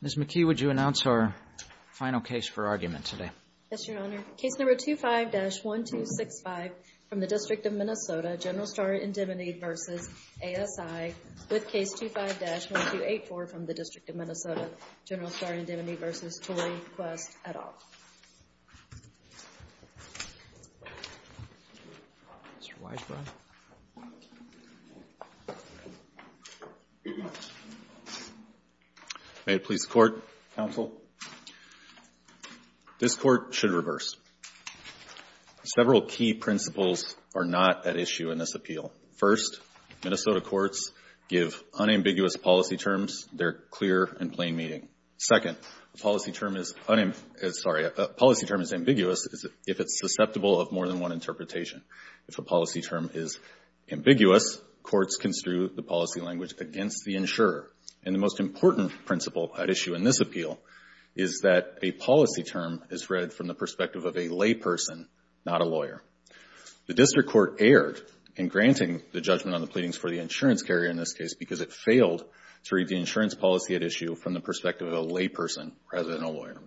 Ms. McKee, would you announce our final case for argument today? Yes, Your Honor. Case number 25-1265 from the District of Minnesota, General Star Indemnity v. ASI, with case 25-1284 from the District of Minnesota, General Star Indemnity v. Tory Quest, et al. Mr. Weisbrot. May it please the Court, Counsel. This Court should reverse. Several key principles are not at issue in this appeal. First, Minnesota courts give unambiguous policy terms their clear and plain meaning. Second, a policy term is ambiguous if it's susceptible of more than one interpretation. If a policy term is ambiguous, courts construe the policy language against the insurer. And the most important principle at issue in this appeal is that a policy term is read from the perspective of a layperson, not a lawyer. The District Court erred in granting the judgment on the pleadings for the insurance carrier in this case because it failed to read the insurance policy at issue from the perspective of a layperson rather than a lawyer.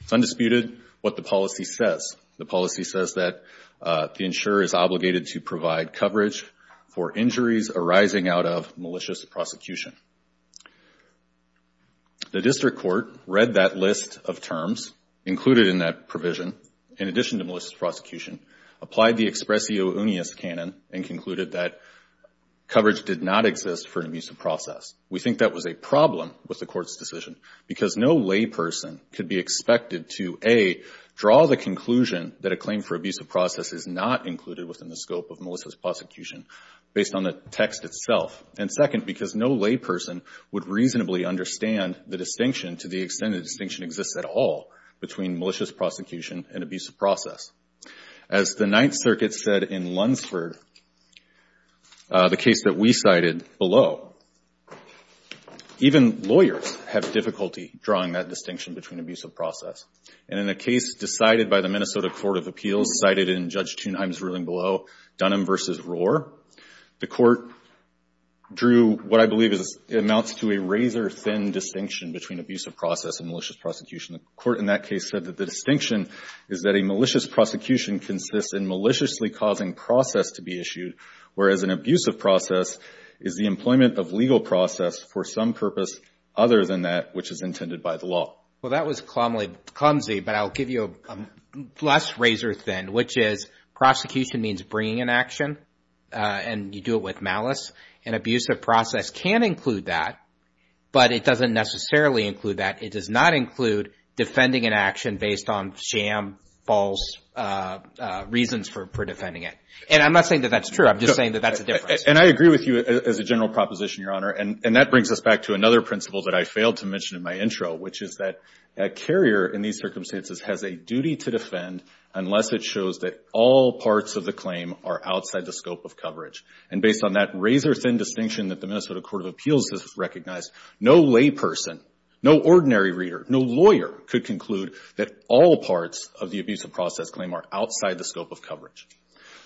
It's undisputed what the policy says. The policy says that the insurer is obligated to provide coverage for injuries arising out of malicious prosecution. The District Court read that list of terms included in that provision in addition to malicious prosecution, applied the expressio unius canon, and concluded that coverage did not exist for an abusive process. We think that was a problem with the Court's decision because no layperson could be expected to, A, draw the conclusion that a claim for abusive process is not included within the scope of malicious prosecution based on the text itself, and second, because no layperson would reasonably understand the distinction to the extent the distinction exists at all between malicious prosecution and abusive process. As the Ninth Circuit said in Lunsford, the case that we cited below, even lawyers have difficulty drawing that distinction between abusive process. And in a case decided by the Minnesota Court of Appeals, cited in Judge Thunheim's ruling below, Dunham v. Rohr, the Court drew what I believe amounts to a razor-thin distinction between abusive process and malicious prosecution. The Court in that case said that the distinction is that a malicious prosecution consists in maliciously causing process to be issued, whereas an abusive process is the employment of legal process for some purpose other than that which is intended by the law. Well, that was clumsy, but I'll give you a less razor-thin, which is prosecution means bringing an action, and you do it with malice. An abusive process can include that, but it doesn't necessarily include that. It does not include defending an action based on sham, false reasons for defending it. And I'm not saying that that's true. I'm just saying that that's a difference. And I agree with you as a general proposition, Your Honor, and that brings us back to another principle that I failed to mention in my intro, which is that a carrier in these circumstances has a duty to defend unless it shows that all parts of the claim are outside the scope of coverage. And based on that razor-thin distinction that the Minnesota Court of Appeals has recognized, no layperson, no ordinary reader, no lawyer could conclude that all parts of the abusive process claim are outside the scope of coverage.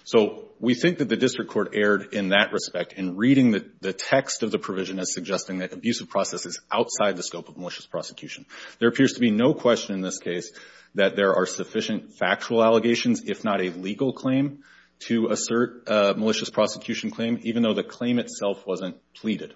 So we think that the district court erred in that respect in reading the text of the provision as suggesting that abusive process is outside the scope of malicious prosecution. There appears to be no question in this case that there are sufficient factual allegations, if not a legal claim, to assert a malicious prosecution claim, even though the claim itself wasn't pleaded.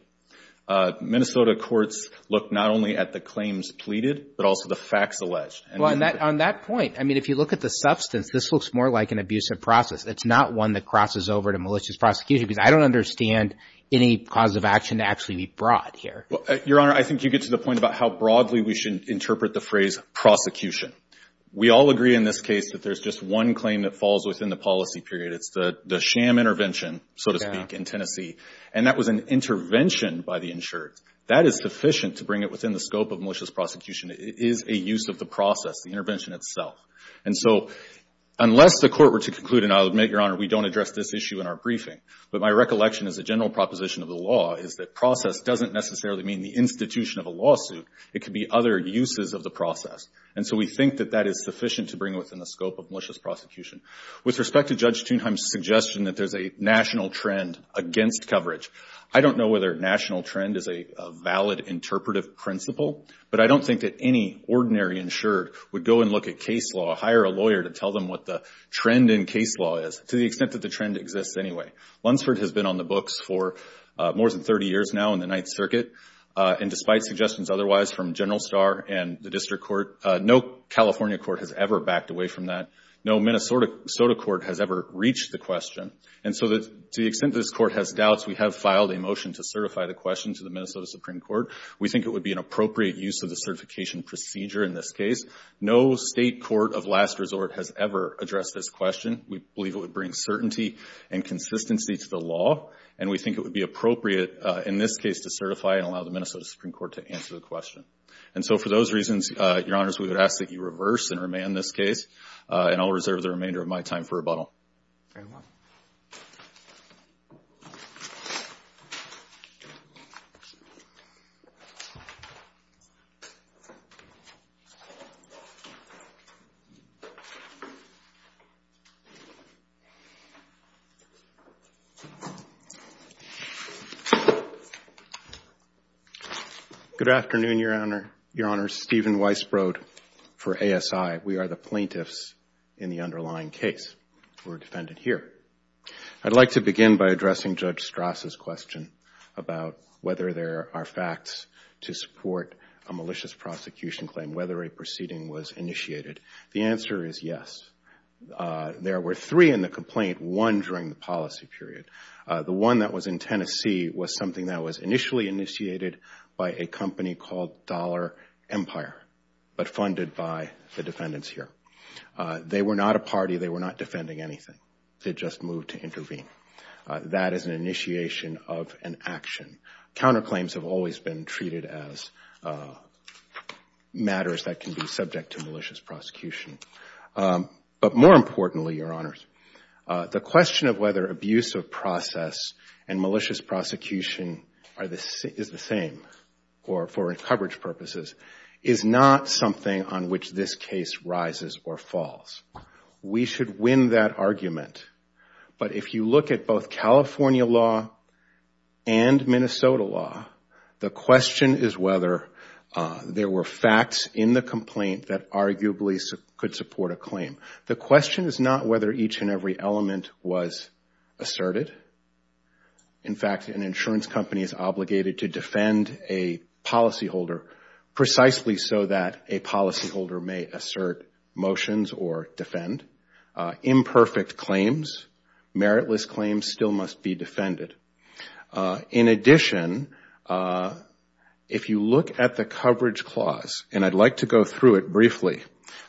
Minnesota courts look not only at the claims pleaded, but also the facts alleged. Well, on that point, I mean, if you look at the substance, this looks more like an abusive process. It's not one that crosses over to malicious prosecution because I don't understand any cause of action to actually be brought here. Your Honor, I think you get to the point about how broadly we should interpret the phrase prosecution. We all agree in this case that there's just one claim that falls within the policy period. It's the sham intervention, so to speak, in Tennessee. And that was an intervention by the insured. That is sufficient to bring it within the scope of malicious prosecution. It is a use of the process, the intervention itself. And so unless the Court were to conclude, and I'll admit, Your Honor, we don't address this issue in our briefing, but my recollection as a general proposition of the law is that process doesn't necessarily mean the institution of a lawsuit. It could be other uses of the process. And so we think that that is sufficient to bring it within the scope of malicious prosecution. With respect to Judge Thunheim's suggestion that there's a national trend against coverage, I don't know whether national trend is a valid interpretive principle, but I don't think that any ordinary insured would go and look at case law, hire a lawyer to tell them what the trend in case law is, to the extent that the trend exists anyway. Lunsford has been on the books for more than 30 years now in the Ninth Circuit, and despite suggestions otherwise from General Starr and the District Court, no California court has ever backed away from that. No Minnesota court has ever reached the question. And so to the extent this Court has doubts, we have filed a motion to certify the question to the Minnesota Supreme Court. We think it would be an appropriate use of the certification procedure in this case. No state court of last resort has ever addressed this question. We believe it would bring certainty and consistency to the law, and we think it would be appropriate in this case to certify and allow the Minnesota Supreme Court to answer the question. And so for those reasons, Your Honors, we would ask that you reverse and remand this case, and I'll reserve the remainder of my time for rebuttal. Very well. Good afternoon, Your Honors. Stephen Weisbrod for ASI. We are the plaintiffs in the underlying case. We're defended here. I'd like to begin by addressing Judge Strass' question about whether there are facts to support a malicious prosecution claim, whether a proceeding was initiated. The answer is yes. There were three in the complaint, one during the policy period. The one that was in Tennessee was something that was initially initiated by a company called Dollar Empire, but funded by the defendants here. They were not a party. They were not defending anything. They just moved to intervene. That is an initiation of an action. Counterclaims have always been treated as matters that can be subject to malicious prosecution. But more importantly, Your Honors, the question of whether abuse of process and malicious prosecution is the same for coverage purposes is not something on which this case rises or falls. We should win that argument. But if you look at both California law and Minnesota law, the question is whether there were facts in the complaint that arguably could support a claim. The question is not whether each and every element was asserted. In fact, an insurance company is obligated to defend a policyholder precisely so that a policyholder may assert motions or defend. Imperfect claims, meritless claims still must be defended. In addition, if you look at the coverage clause, and I'd like to go through it briefly,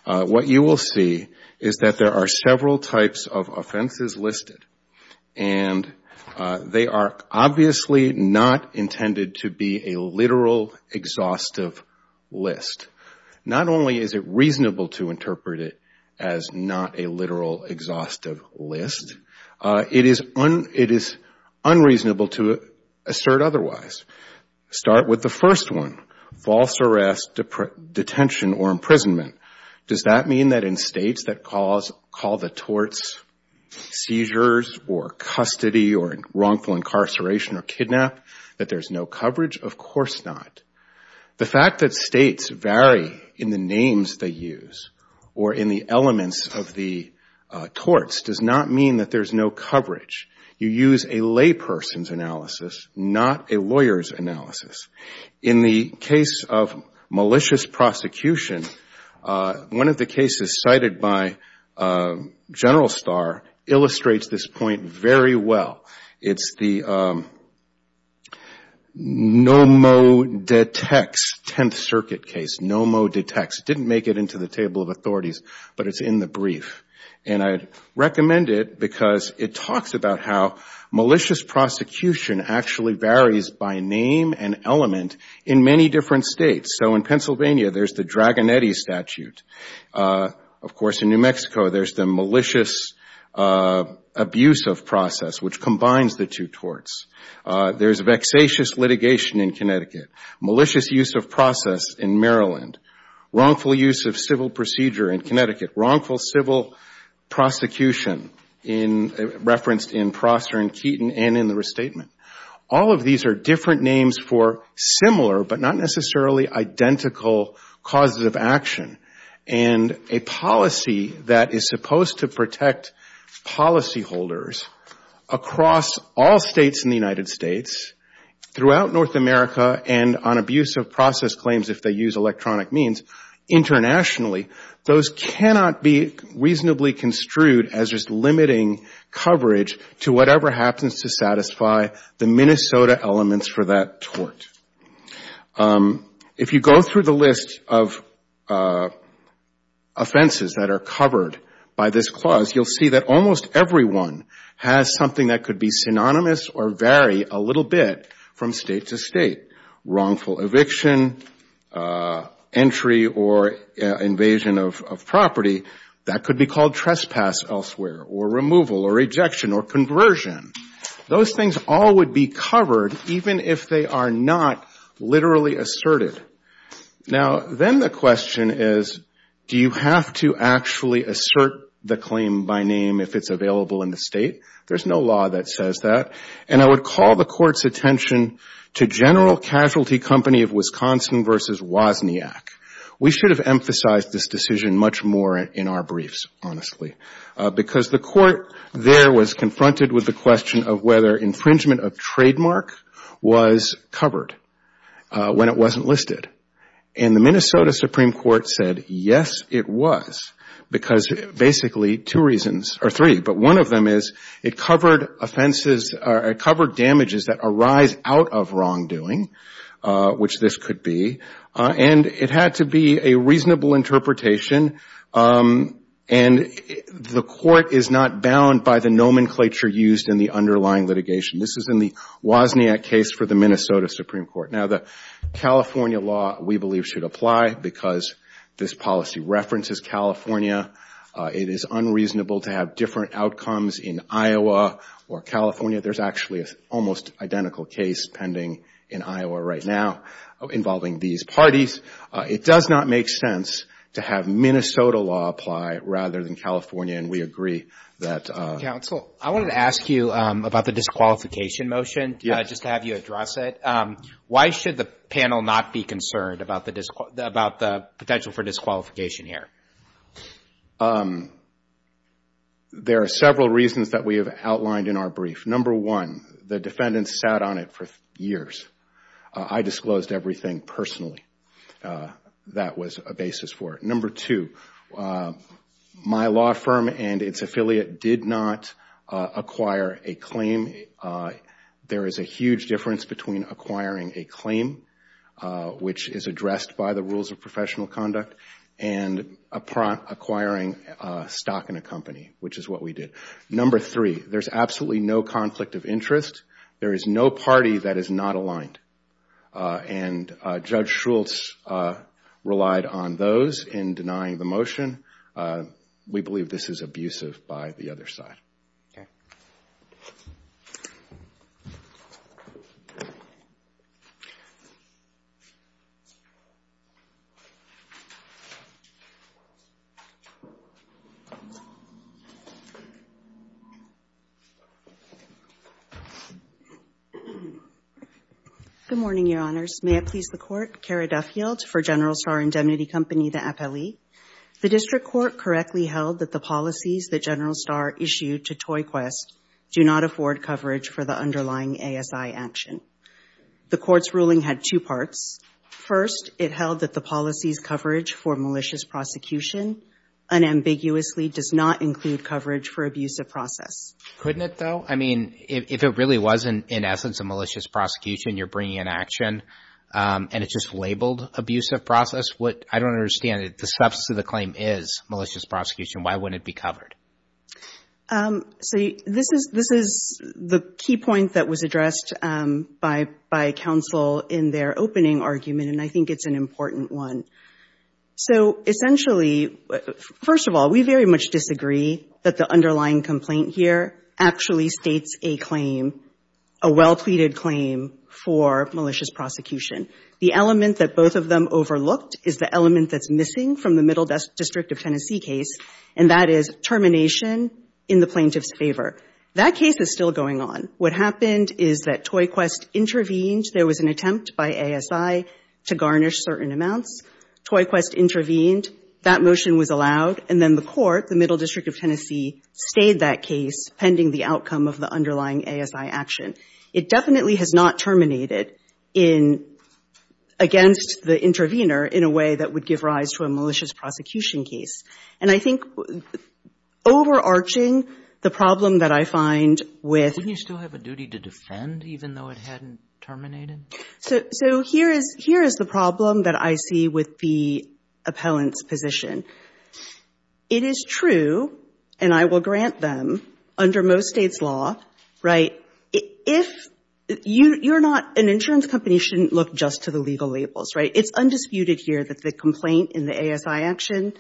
what you will see is that there are several types of offenses listed, and they are obviously not intended to be a literal exhaustive list. Not only is it reasonable to interpret it as not a literal exhaustive list, it is unreasonable to assert otherwise. Start with the first one, false arrest, detention, or imprisonment. Does that mean that in states that call the torts seizures or custody or wrongful incarceration or kidnap, that there's no coverage? Of course not. The fact that states vary in the names they use or in the elements of the torts does not mean that there's no coverage. You use a layperson's analysis, not a lawyer's analysis. In the case of malicious prosecution, one of the cases cited by General Starr illustrates this point very well. It's the Nomodetects 10th Circuit case, Nomodetects. It didn't make it into the table of authorities, but it's in the brief. And I recommend it because it talks about how malicious prosecution actually varies by name and element in many different states. So in Pennsylvania, there's the Dragonetti statute. Of course, in New Mexico, there's the malicious abuse of process, which combines the two torts. There's vexatious litigation in Connecticut, malicious use of process in Maryland, wrongful use of civil procedure in Connecticut, wrongful civil prosecution referenced in Prosser and Keaton and in the restatement. All of these are different names for similar but not necessarily identical causes of action. And a policy that is supposed to protect policyholders across all states in the United States, throughout North America and on abuse of process claims if they use electronic means internationally, those cannot be reasonably construed as just limiting coverage to whatever happens to satisfy the Minnesota elements for that tort. If you go through the list of offenses that are covered by this clause, you'll see that almost everyone has something that could be synonymous or vary a little bit from state to state, wrongful eviction, entry or invasion of property. That could be called trespass elsewhere or removal or rejection or conversion. Those things all would be covered even if they are not literally asserted. Now, then the question is, do you have to actually assert the claim by name if it's available in the state? There's no law that says that. And I would call the Court's attention to General Casualty Company of Wisconsin v. Wozniak. We should have emphasized this decision much more in our briefs, honestly, because the Court there was confronted with the question of whether infringement of trademark was covered when it wasn't listed. And the Minnesota Supreme Court said, yes, it was, because basically two reasons, or three, but one of them is it covered damages that arise out of wrongdoing, which this could be, and it had to be a reasonable interpretation. And the Court is not bound by the nomenclature used in the underlying litigation. This is in the Wozniak case for the Minnesota Supreme Court. Now, the California law, we believe, should apply because this policy references California. It is unreasonable to have different outcomes in Iowa or California. There's actually an almost identical case pending in Iowa right now involving these parties. It does not make sense to have Minnesota law apply rather than California, and we agree that. Counsel, I wanted to ask you about the disqualification motion, just to have you address it. Why should the panel not be concerned about the potential for disqualification here? There are several reasons that we have outlined in our brief. Number one, the defendants sat on it for years. I disclosed everything personally. That was a basis for it. Number two, my law firm and its affiliate did not acquire a claim. There is a huge difference between acquiring a claim, which is addressed by the rules of professional conduct, and acquiring stock in a company, which is what we did. Number three, there's absolutely no conflict of interest. There is no party that is not aligned. And Judge Shultz relied on those in denying the motion. We believe this is abusive by the other side. Good morning, Your Honors. May it please the Court, Cara Duffield for General Star Indemnity Company, the appellee. The district court correctly held that the policies that General Star issued to Toy Quest do not afford coverage for the underlying ASI action. The Court's ruling had two parts. First, it held that the policies' coverage for malicious prosecution unambiguously does not include coverage for abusive process. Couldn't it, though? I mean, if it really was, in essence, a malicious prosecution, you're bringing in action, and it's just labeled abusive process, I don't understand it. The substance of the claim is malicious prosecution. Why wouldn't it be covered? So this is the key point that was addressed by counsel in their opening argument, and I think it's an important one. So essentially, first of all, we very much disagree that the underlying complaint here actually states a claim, a well-pleaded claim, for malicious prosecution. The element that both of them overlooked is the element that's missing from the Middle District of Tennessee case, and that is termination in the plaintiff's favor. That case is still going on. What happened is that Toy Quest intervened. There was an attempt by ASI to garnish certain amounts. Toy Quest intervened. That motion was allowed. And then the court, the Middle District of Tennessee, stayed that case pending the outcome of the underlying ASI action. It definitely has not terminated against the intervener in a way that would give rise to a malicious prosecution case. And I think overarching the problem that I find with... Wouldn't you still have a duty to defend, even though it hadn't terminated? So here is the problem that I see with the appellant's position. It is true, and I will grant them, under most States' law, right, if you're not an insurance company, you shouldn't look just to the legal labels, right? It's undisputed here that the complaint in the ASI action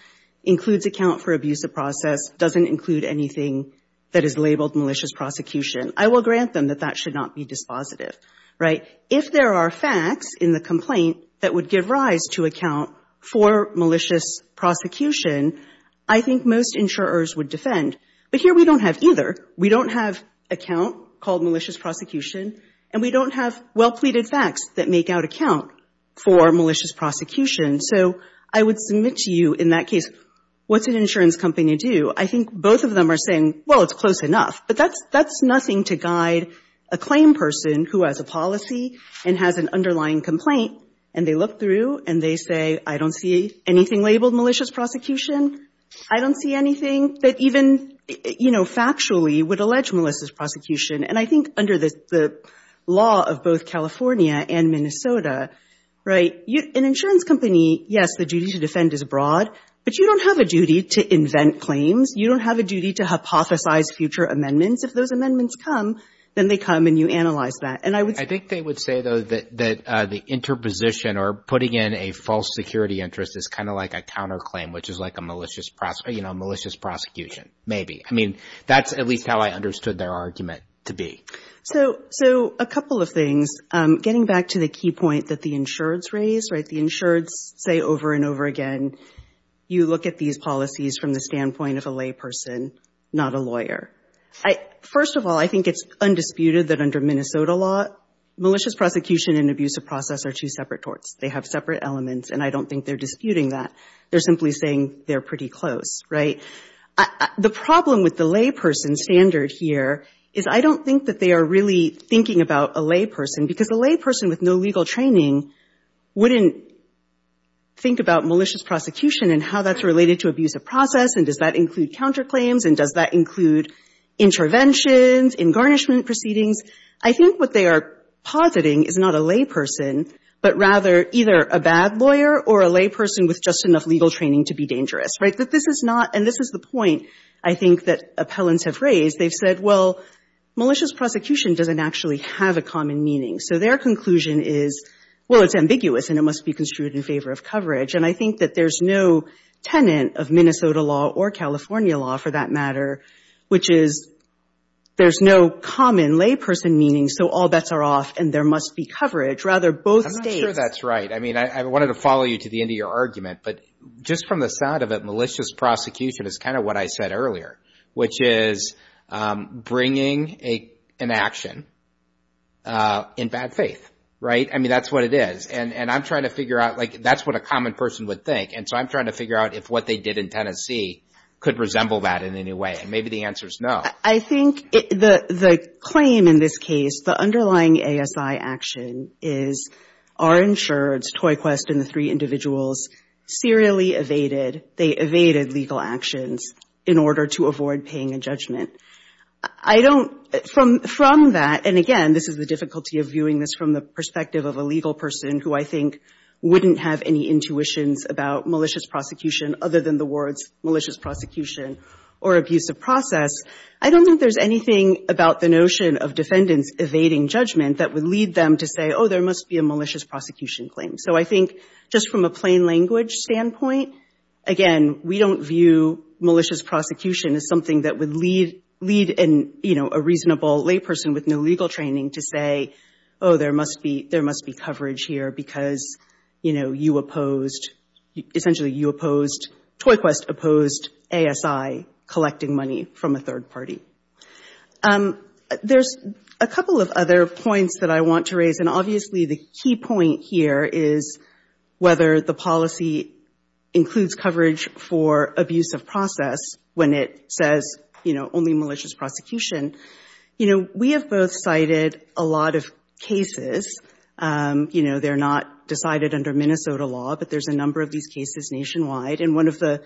includes account for abusive process, doesn't include anything that is labeled malicious prosecution. I will grant them that that should not be dispositive, right? If there are facts in the complaint that would give rise to account for malicious prosecution, I think most insurers would defend. But here we don't have either. We don't have account called malicious prosecution, and we don't have well-pleaded facts that make out account for malicious prosecution. So I would submit to you in that case, what's an insurance company do? I think both of them are saying, well, it's close enough. But that's nothing to guide a claim person who has a policy and has an underlying complaint, and they look through and they say, I don't see anything labeled malicious prosecution. I don't see anything that even, you know, factually would allege malicious prosecution. And I think under the law of both California and Minnesota, right, an insurance company, yes, the duty to defend is broad. But you don't have a duty to invent claims. You don't have a duty to hypothesize future amendments. If those amendments come, then they come and you analyze that. I think they would say, though, that the interposition or putting in a false security interest is kind of like a counterclaim, which is like a malicious prosecution, maybe. I mean, that's at least how I understood their argument to be. So a couple of things. Getting back to the key point that the insureds raised, right, the insureds say over and over again, you look at these policies from the standpoint of a layperson, not a lawyer. First of all, I think it's undisputed that under Minnesota law, malicious prosecution and abusive process are two separate torts. They have separate elements, and I don't think they're disputing that. They're simply saying they're pretty close, right? The problem with the layperson standard here is I don't think that they are really thinking about a layperson, because a layperson with no legal training wouldn't think about malicious prosecution and how that's related to abusive process and does that include counterclaims and does that include interventions, engarnishment proceedings. I think what they are positing is not a layperson, but rather either a bad lawyer or a layperson with just enough legal training to be dangerous, right? But this is not, and this is the point I think that appellants have raised. They've said, well, malicious prosecution doesn't actually have a common meaning. So their conclusion is, well, it's ambiguous and it must be construed in favor of coverage. And I think that there's no tenant of Minnesota law or California law, for that matter, which is there's no common layperson meaning, so all bets are off and there must be coverage. Rather, both states. I'm not sure that's right. I mean, I wanted to follow you to the end of your argument, but just from the sound of it, malicious prosecution is kind of what I said earlier, which is bringing an action in bad faith, right? I mean, that's what it is. And I'm trying to figure out, like, that's what a common person would think, and so I'm trying to figure out if what they did in Tennessee could resemble that in any way, and maybe the answer is no. I think the claim in this case, the underlying ASI action is our insureds, Toy Quest and the three individuals, serially evaded, they evaded legal actions in order to avoid paying a judgment. I don't, from that, and again, this is the difficulty of viewing this from the perspective of a legal person who I think wouldn't have any intuitions about malicious prosecution other than the words malicious prosecution or abusive process. I don't think there's anything about the notion of defendants evading judgment that would lead them to say, oh, there must be a malicious prosecution claim. So I think just from a plain language standpoint, again, we don't view malicious prosecution as something that would lead a reasonable layperson with no legal training to say, oh, there must be coverage here because, you know, you opposed, essentially you opposed, Toy Quest opposed ASI collecting money from a third party. There's a couple of other points that I want to raise, and obviously the key point here is whether the policy includes coverage for abusive process when it says only malicious prosecution. We have both cited a lot of cases. They're not decided under Minnesota law, but there's a number of these cases nationwide, and one of the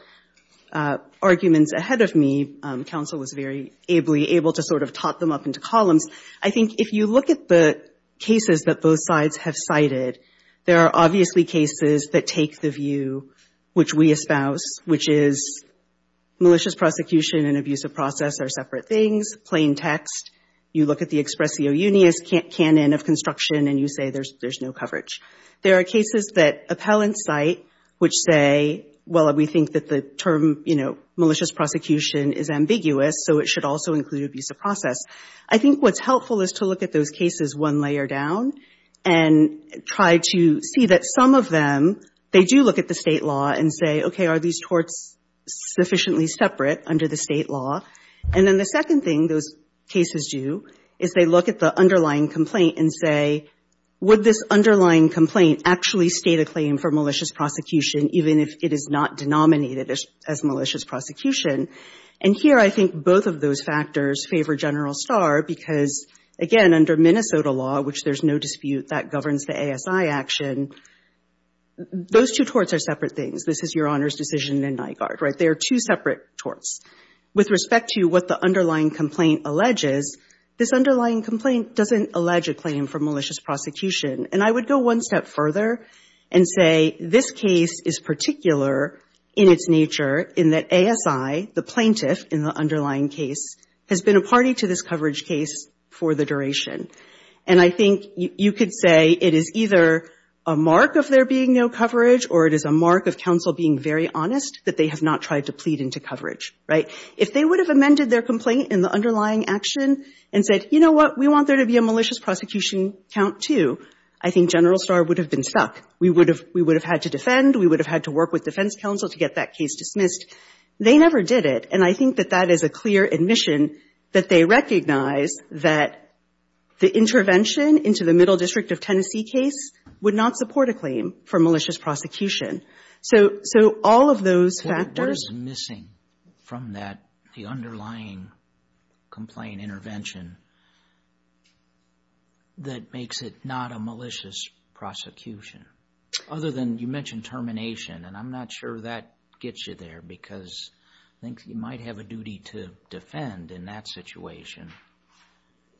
arguments ahead of me, counsel was very ably able to sort of top them up into columns. I think if you look at the cases that both sides have cited, there are obviously cases that take the view which we espouse, which is malicious prosecution and abusive process are separate things, plain text. You look at the expressio unis canon of construction and you say there's no coverage. There are cases that appellants cite which say, well, we think that the term, you know, malicious prosecution is ambiguous, so it should also include abusive process. I think what's helpful is to look at those cases one layer down and try to see that some of them, they do look at the state law and say, okay, are these torts sufficiently separate under the state law? And then the second thing those cases do is they look at the underlying complaint and say, would this underlying complaint actually state a claim for malicious prosecution even if it is not denominated as malicious prosecution? And here I think both of those factors favor General Starr because, again, under Minnesota law, which there's no dispute that governs the ASI action, those two torts are separate things. This is Your Honor's decision in Nygard, right? They are two separate torts. With respect to what the underlying complaint alleges, this underlying complaint doesn't allege a claim for malicious prosecution. And I would go one step further and say this case is particular in its nature in that ASI, the plaintiff in the underlying case, has been a party to this coverage case for the duration. And I think you could say it is either a mark of there being no coverage or it is a mark of counsel being very honest that they have not tried to plead into coverage, right? If they would have amended their complaint in the underlying action and said, you know what, we want there to be a malicious prosecution count, too, I think General Starr would have been stuck. We would have had to defend. We would have had to work with defense counsel to get that case dismissed. They never did it. And I think that that is a clear admission that they recognize that the intervention into the Middle District of Tennessee case would not support a claim for malicious prosecution. So all of those factors. What is missing from that, the underlying complaint intervention, that makes it not a malicious prosecution? Other than you mentioned termination, and I'm not sure that gets you there, because I think you might have a duty to defend in that situation.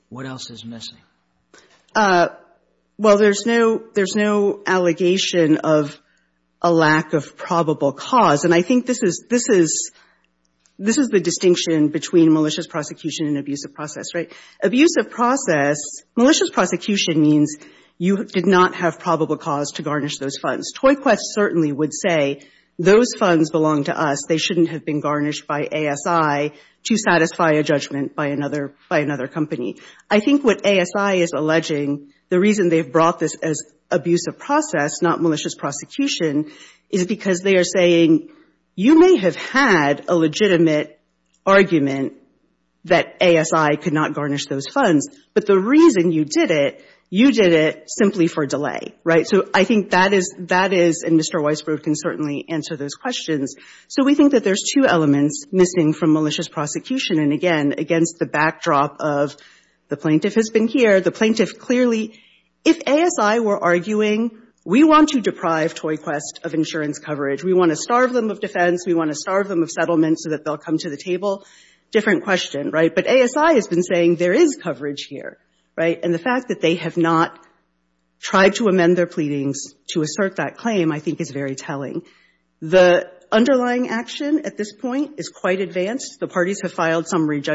What else is missing? Well, there's no allegation of a lack of probable cause. And I think the distinction between malicious prosecution and abusive process, right? Abusive process, malicious prosecution means you did not have probable cause to garnish those funds. Toy Quest certainly would say, those funds belong to us. They shouldn't have been garnished by ASI to satisfy a judgment by another company. I think what ASI is alleging, the reason they've brought this as abusive process, not you may have had a legitimate argument that ASI could not garnish those funds. But the reason you did it, you did it simply for delay, right? So I think that is and Mr. Weisbrot can certainly answer those questions. So we think that there's two elements missing from malicious prosecution. And again, against the backdrop of the plaintiff has been here, the plaintiff clearly, if ASI were arguing, we want to deprive Toy Quest of insurance coverage. We want to starve them of defense. We want to starve them of settlement so that they'll come to the table. Different question, right? But ASI has been saying there is coverage here, right? And the fact that they have not tried to amend their pleadings to assert that claim I think is very telling. The underlying action at this point is quite advanced. The parties have filed summary for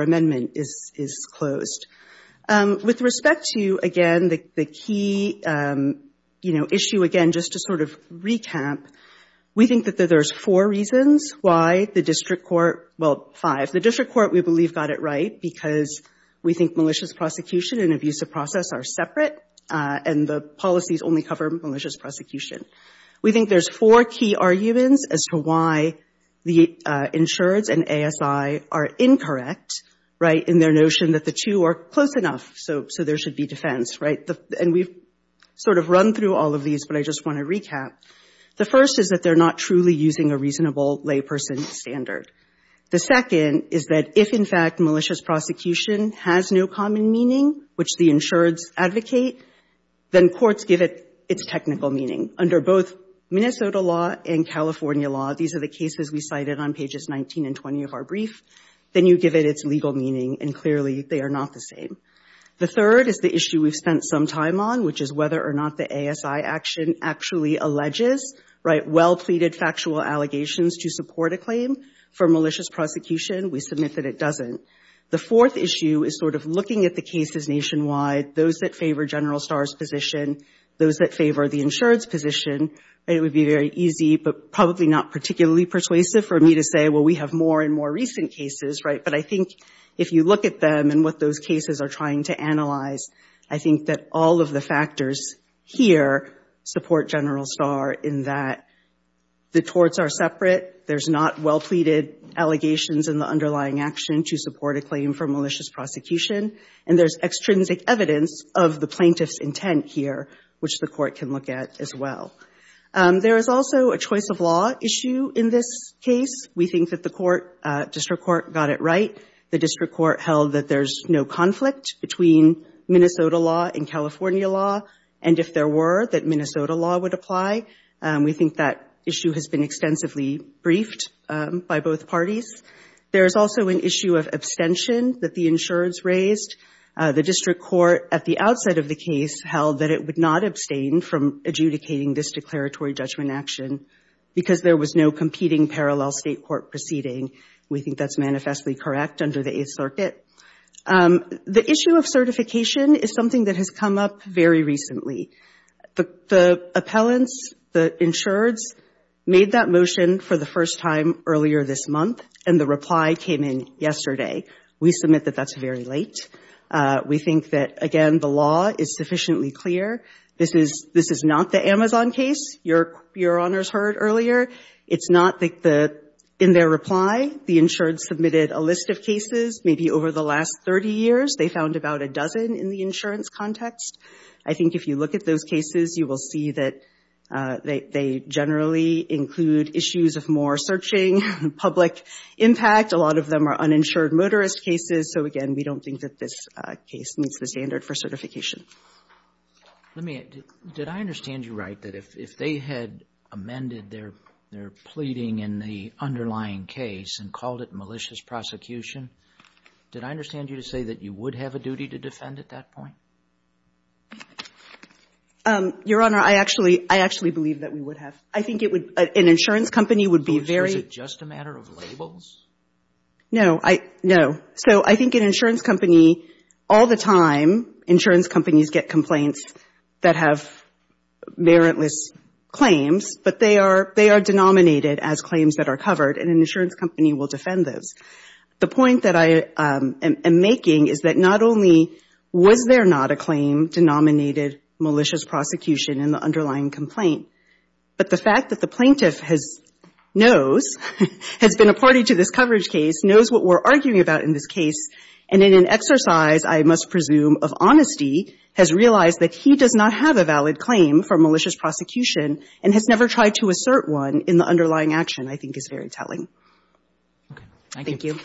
amendment is closed. With respect to, again, the key issue, again, just to sort of recap, we think that there's four reasons why the district court, well, five. The district court, we believe, got it right because we think malicious prosecution and abusive process are separate and the policies only cover malicious prosecution. We think there's four key arguments as to why the insureds and ASI are incorrect, right, in their notion that the two are close enough, so there should be defense, right? And we've sort of run through all of these, but I just want to recap. The first is that they're not truly using a reasonable layperson standard. The second is that if, in fact, malicious prosecution has no common meaning, which the insureds advocate, then courts give it its technical meaning. Under both Minnesota law and California law, these are the cases we cited on pages 19 and 20 of our brief. Then you give it its legal meaning, and clearly they are not the same. The third is the issue we've spent some time on, which is whether or not the ASI action actually alleges, right, well-pleaded factual allegations to support a claim for malicious prosecution. We submit that it doesn't. The fourth issue is sort of looking at the cases nationwide, those that favor General Starr's position, those that favor the insured's position. It would be very easy, but probably not particularly persuasive for me to say, well, we have more and more recent cases, right? But I think if you look at them and what those cases are trying to analyze, I think that all of the factors here support General Starr in that the torts are separate, there's not well-pleaded allegations in the underlying action to support a claim for malicious prosecution, and there's extrinsic evidence of the plaintiff's intent here, which the court can look at as well. There is also a choice of law issue in this case. We think that the court, district court, got it right. The district court held that there's no conflict between Minnesota law and California law, and if there were, that Minnesota law would apply. We think that issue has been extensively briefed by both parties. There is also an issue of abstention that the insureds raised. The district court at the outset of the case held that it would not abstain from adjudicating this declaratory judgment action because there was no competing parallel state court proceeding. We think that's manifestly correct under the Eighth Circuit. The issue of abdication is something that has come up very recently. The appellants, the insureds, made that motion for the first time earlier this month, and the reply came in yesterday. We submit that that's very late. We think that, again, the law is sufficiently clear. This is not the Amazon case, Your Honor's heard earlier. It's not the — in their reply, the insureds maybe over the last 30 years, they found about a dozen in the insurance context. I think if you look at those cases, you will see that they generally include issues of more searching, public impact. A lot of them are uninsured motorist cases. So, again, we don't think that this case meets the standard for certification. Let me — did I understand you right, that if they had amended their pleading in the underlying case and called it malicious prosecution, did I understand you to say that you would have a duty to defend at that point? Your Honor, I actually — I actually believe that we would have. I think it would — an insurance company would be very — So is it just a matter of labels? No. I — no. So I think an insurance company all the time, insurance companies get complaints that have warrantless claims, but they are — they are denominated as claims that are covered, and an insurance company will defend those. The point that I am making is that not only was there not a claim denominated malicious prosecution in the underlying complaint, but the fact that the plaintiff has — knows, has been a party to this coverage case, knows what we're arguing about in this case, and in an exercise, I must presume, of honesty, has realized that he does not have a valid claim for malicious prosecution and has never tried to assert one in the underlying action, I think is very telling. Okay. Thank you. Thank you.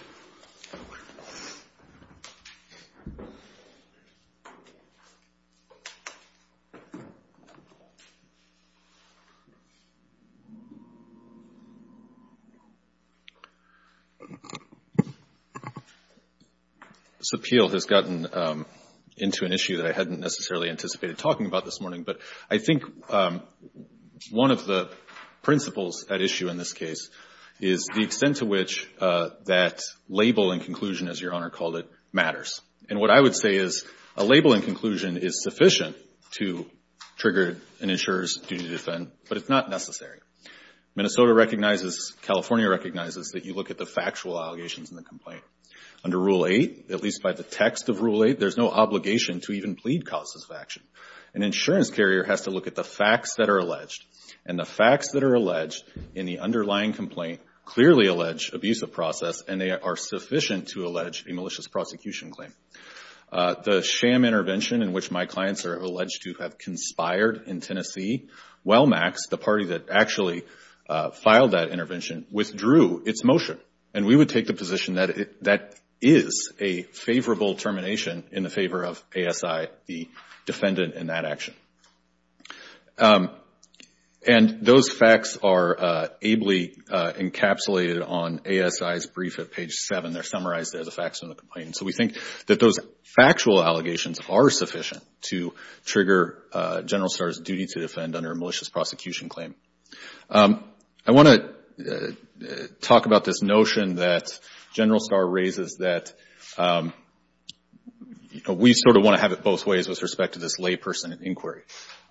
This appeal has gotten into an issue that I hadn't necessarily anticipated talking about this morning, but I think one of the principles at issue in this case is the extent to which that label and conclusion, as Your Honor called it, matters. And what I would say is a label and conclusion is sufficient to trigger an insurer's duty to defend, but it's not necessary. Minnesota recognizes, California recognizes, that you look at the factual allegations in the complaint. Under Rule 8, at least by the text of Rule 8, there's no obligation to even plead causes of action. An insurance carrier has to look at the facts that are alleged, and the facts that are alleged in the underlying complaint clearly allege abuse of process, and they are sufficient to allege a malicious prosecution claim. The sham intervention in which my clients are alleged to have expired in Tennessee, Wellmax, the party that actually filed that intervention, withdrew its motion. And we would take the position that that is a favorable termination in the favor of ASI, the defendant in that action. And those facts are ably encapsulated on ASI's brief at page 7. They're summarized as the facts in the complaint. So we think that those factual allegations are sufficient to trigger General Starr's duty to defend under a malicious prosecution claim. I want to talk about this notion that General Starr raises that we sort of want to have it both ways with respect to this layperson inquiry.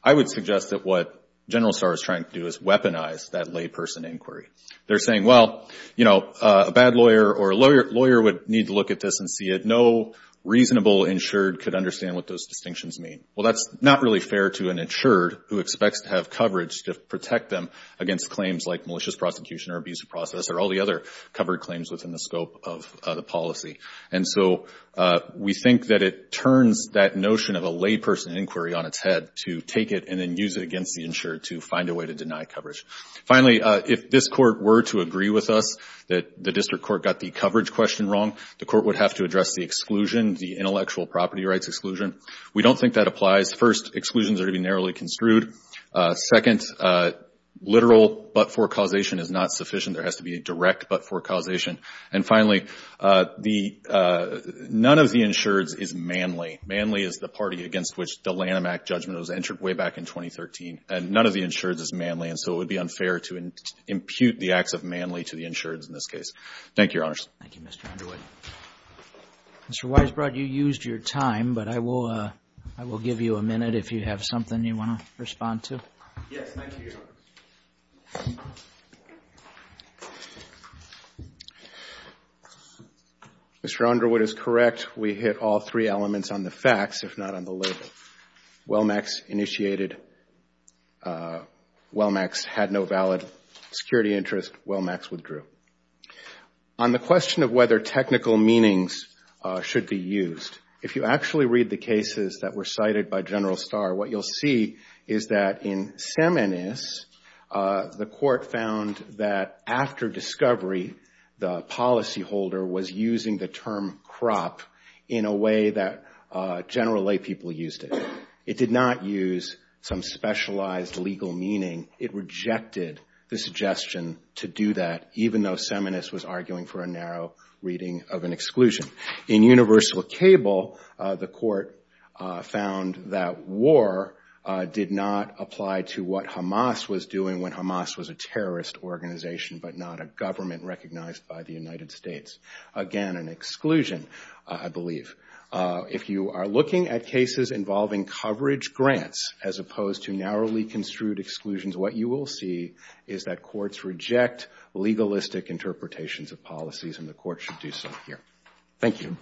I would suggest that what General Starr is trying to do is weaponize that layperson inquiry. They're saying, well, you know, a bad lawyer or a lawyer would need to look at this and see it. No reasonable insured could understand what those distinctions mean. Well, that's not really fair to an insured who expects to have coverage to protect them against claims like malicious prosecution or abuse of process or all the other covered claims within the scope of the policy. And so we think that it turns that notion of a layperson inquiry on its head to take it and then use it against the insured to find a way to deny coverage. Finally, if this Court were to agree with us that the district court got the coverage question wrong, the Court would have to address the exclusion, the intellectual property rights exclusion. We don't think that applies. First, exclusions are to be narrowly construed. Second, literal but-for causation is not sufficient. There has to be a direct but-for causation. And finally, the — none of the insureds is manly. Manly is the party against which the Lanham Act judgment was entered way back in 2013. And none of the insureds is manly. And so it would be unfair to impute the acts of manly to the insureds in this case. Thank you, Your Honors. Thank you, Mr. Underwood. Mr. Weisbrot, you used your time, but I will give you a minute if you have something you want to respond to. Yes, thank you, Your Honors. Mr. Underwood is correct. We hit all three elements on the facts, if not on the label. Wellmax initiated — Wellmax had no valid security interest. Wellmax withdrew. On the question of whether technical meanings should be used, if you actually read the cases that were cited by General Starr, what you'll see is that in Seminus, the Court found that after discovery, the policyholder was using the term crop in a way that general laypeople used it. It did not use some specialized legal meaning. It rejected the suggestion to do that, even though Seminus was arguing for a narrow reading of an exclusion. In Universal Cable, the Court found that war did not apply to what Hamas was doing when Hamas was a terrorist organization, but not a government recognized by the United States. Again, an exclusion, I believe. If you are looking at cases involving coverage grants, as opposed to narrowly construed exclusions, what you will see is that courts reject legalistic interpretations of policies, and the Court should do so here. Thank you.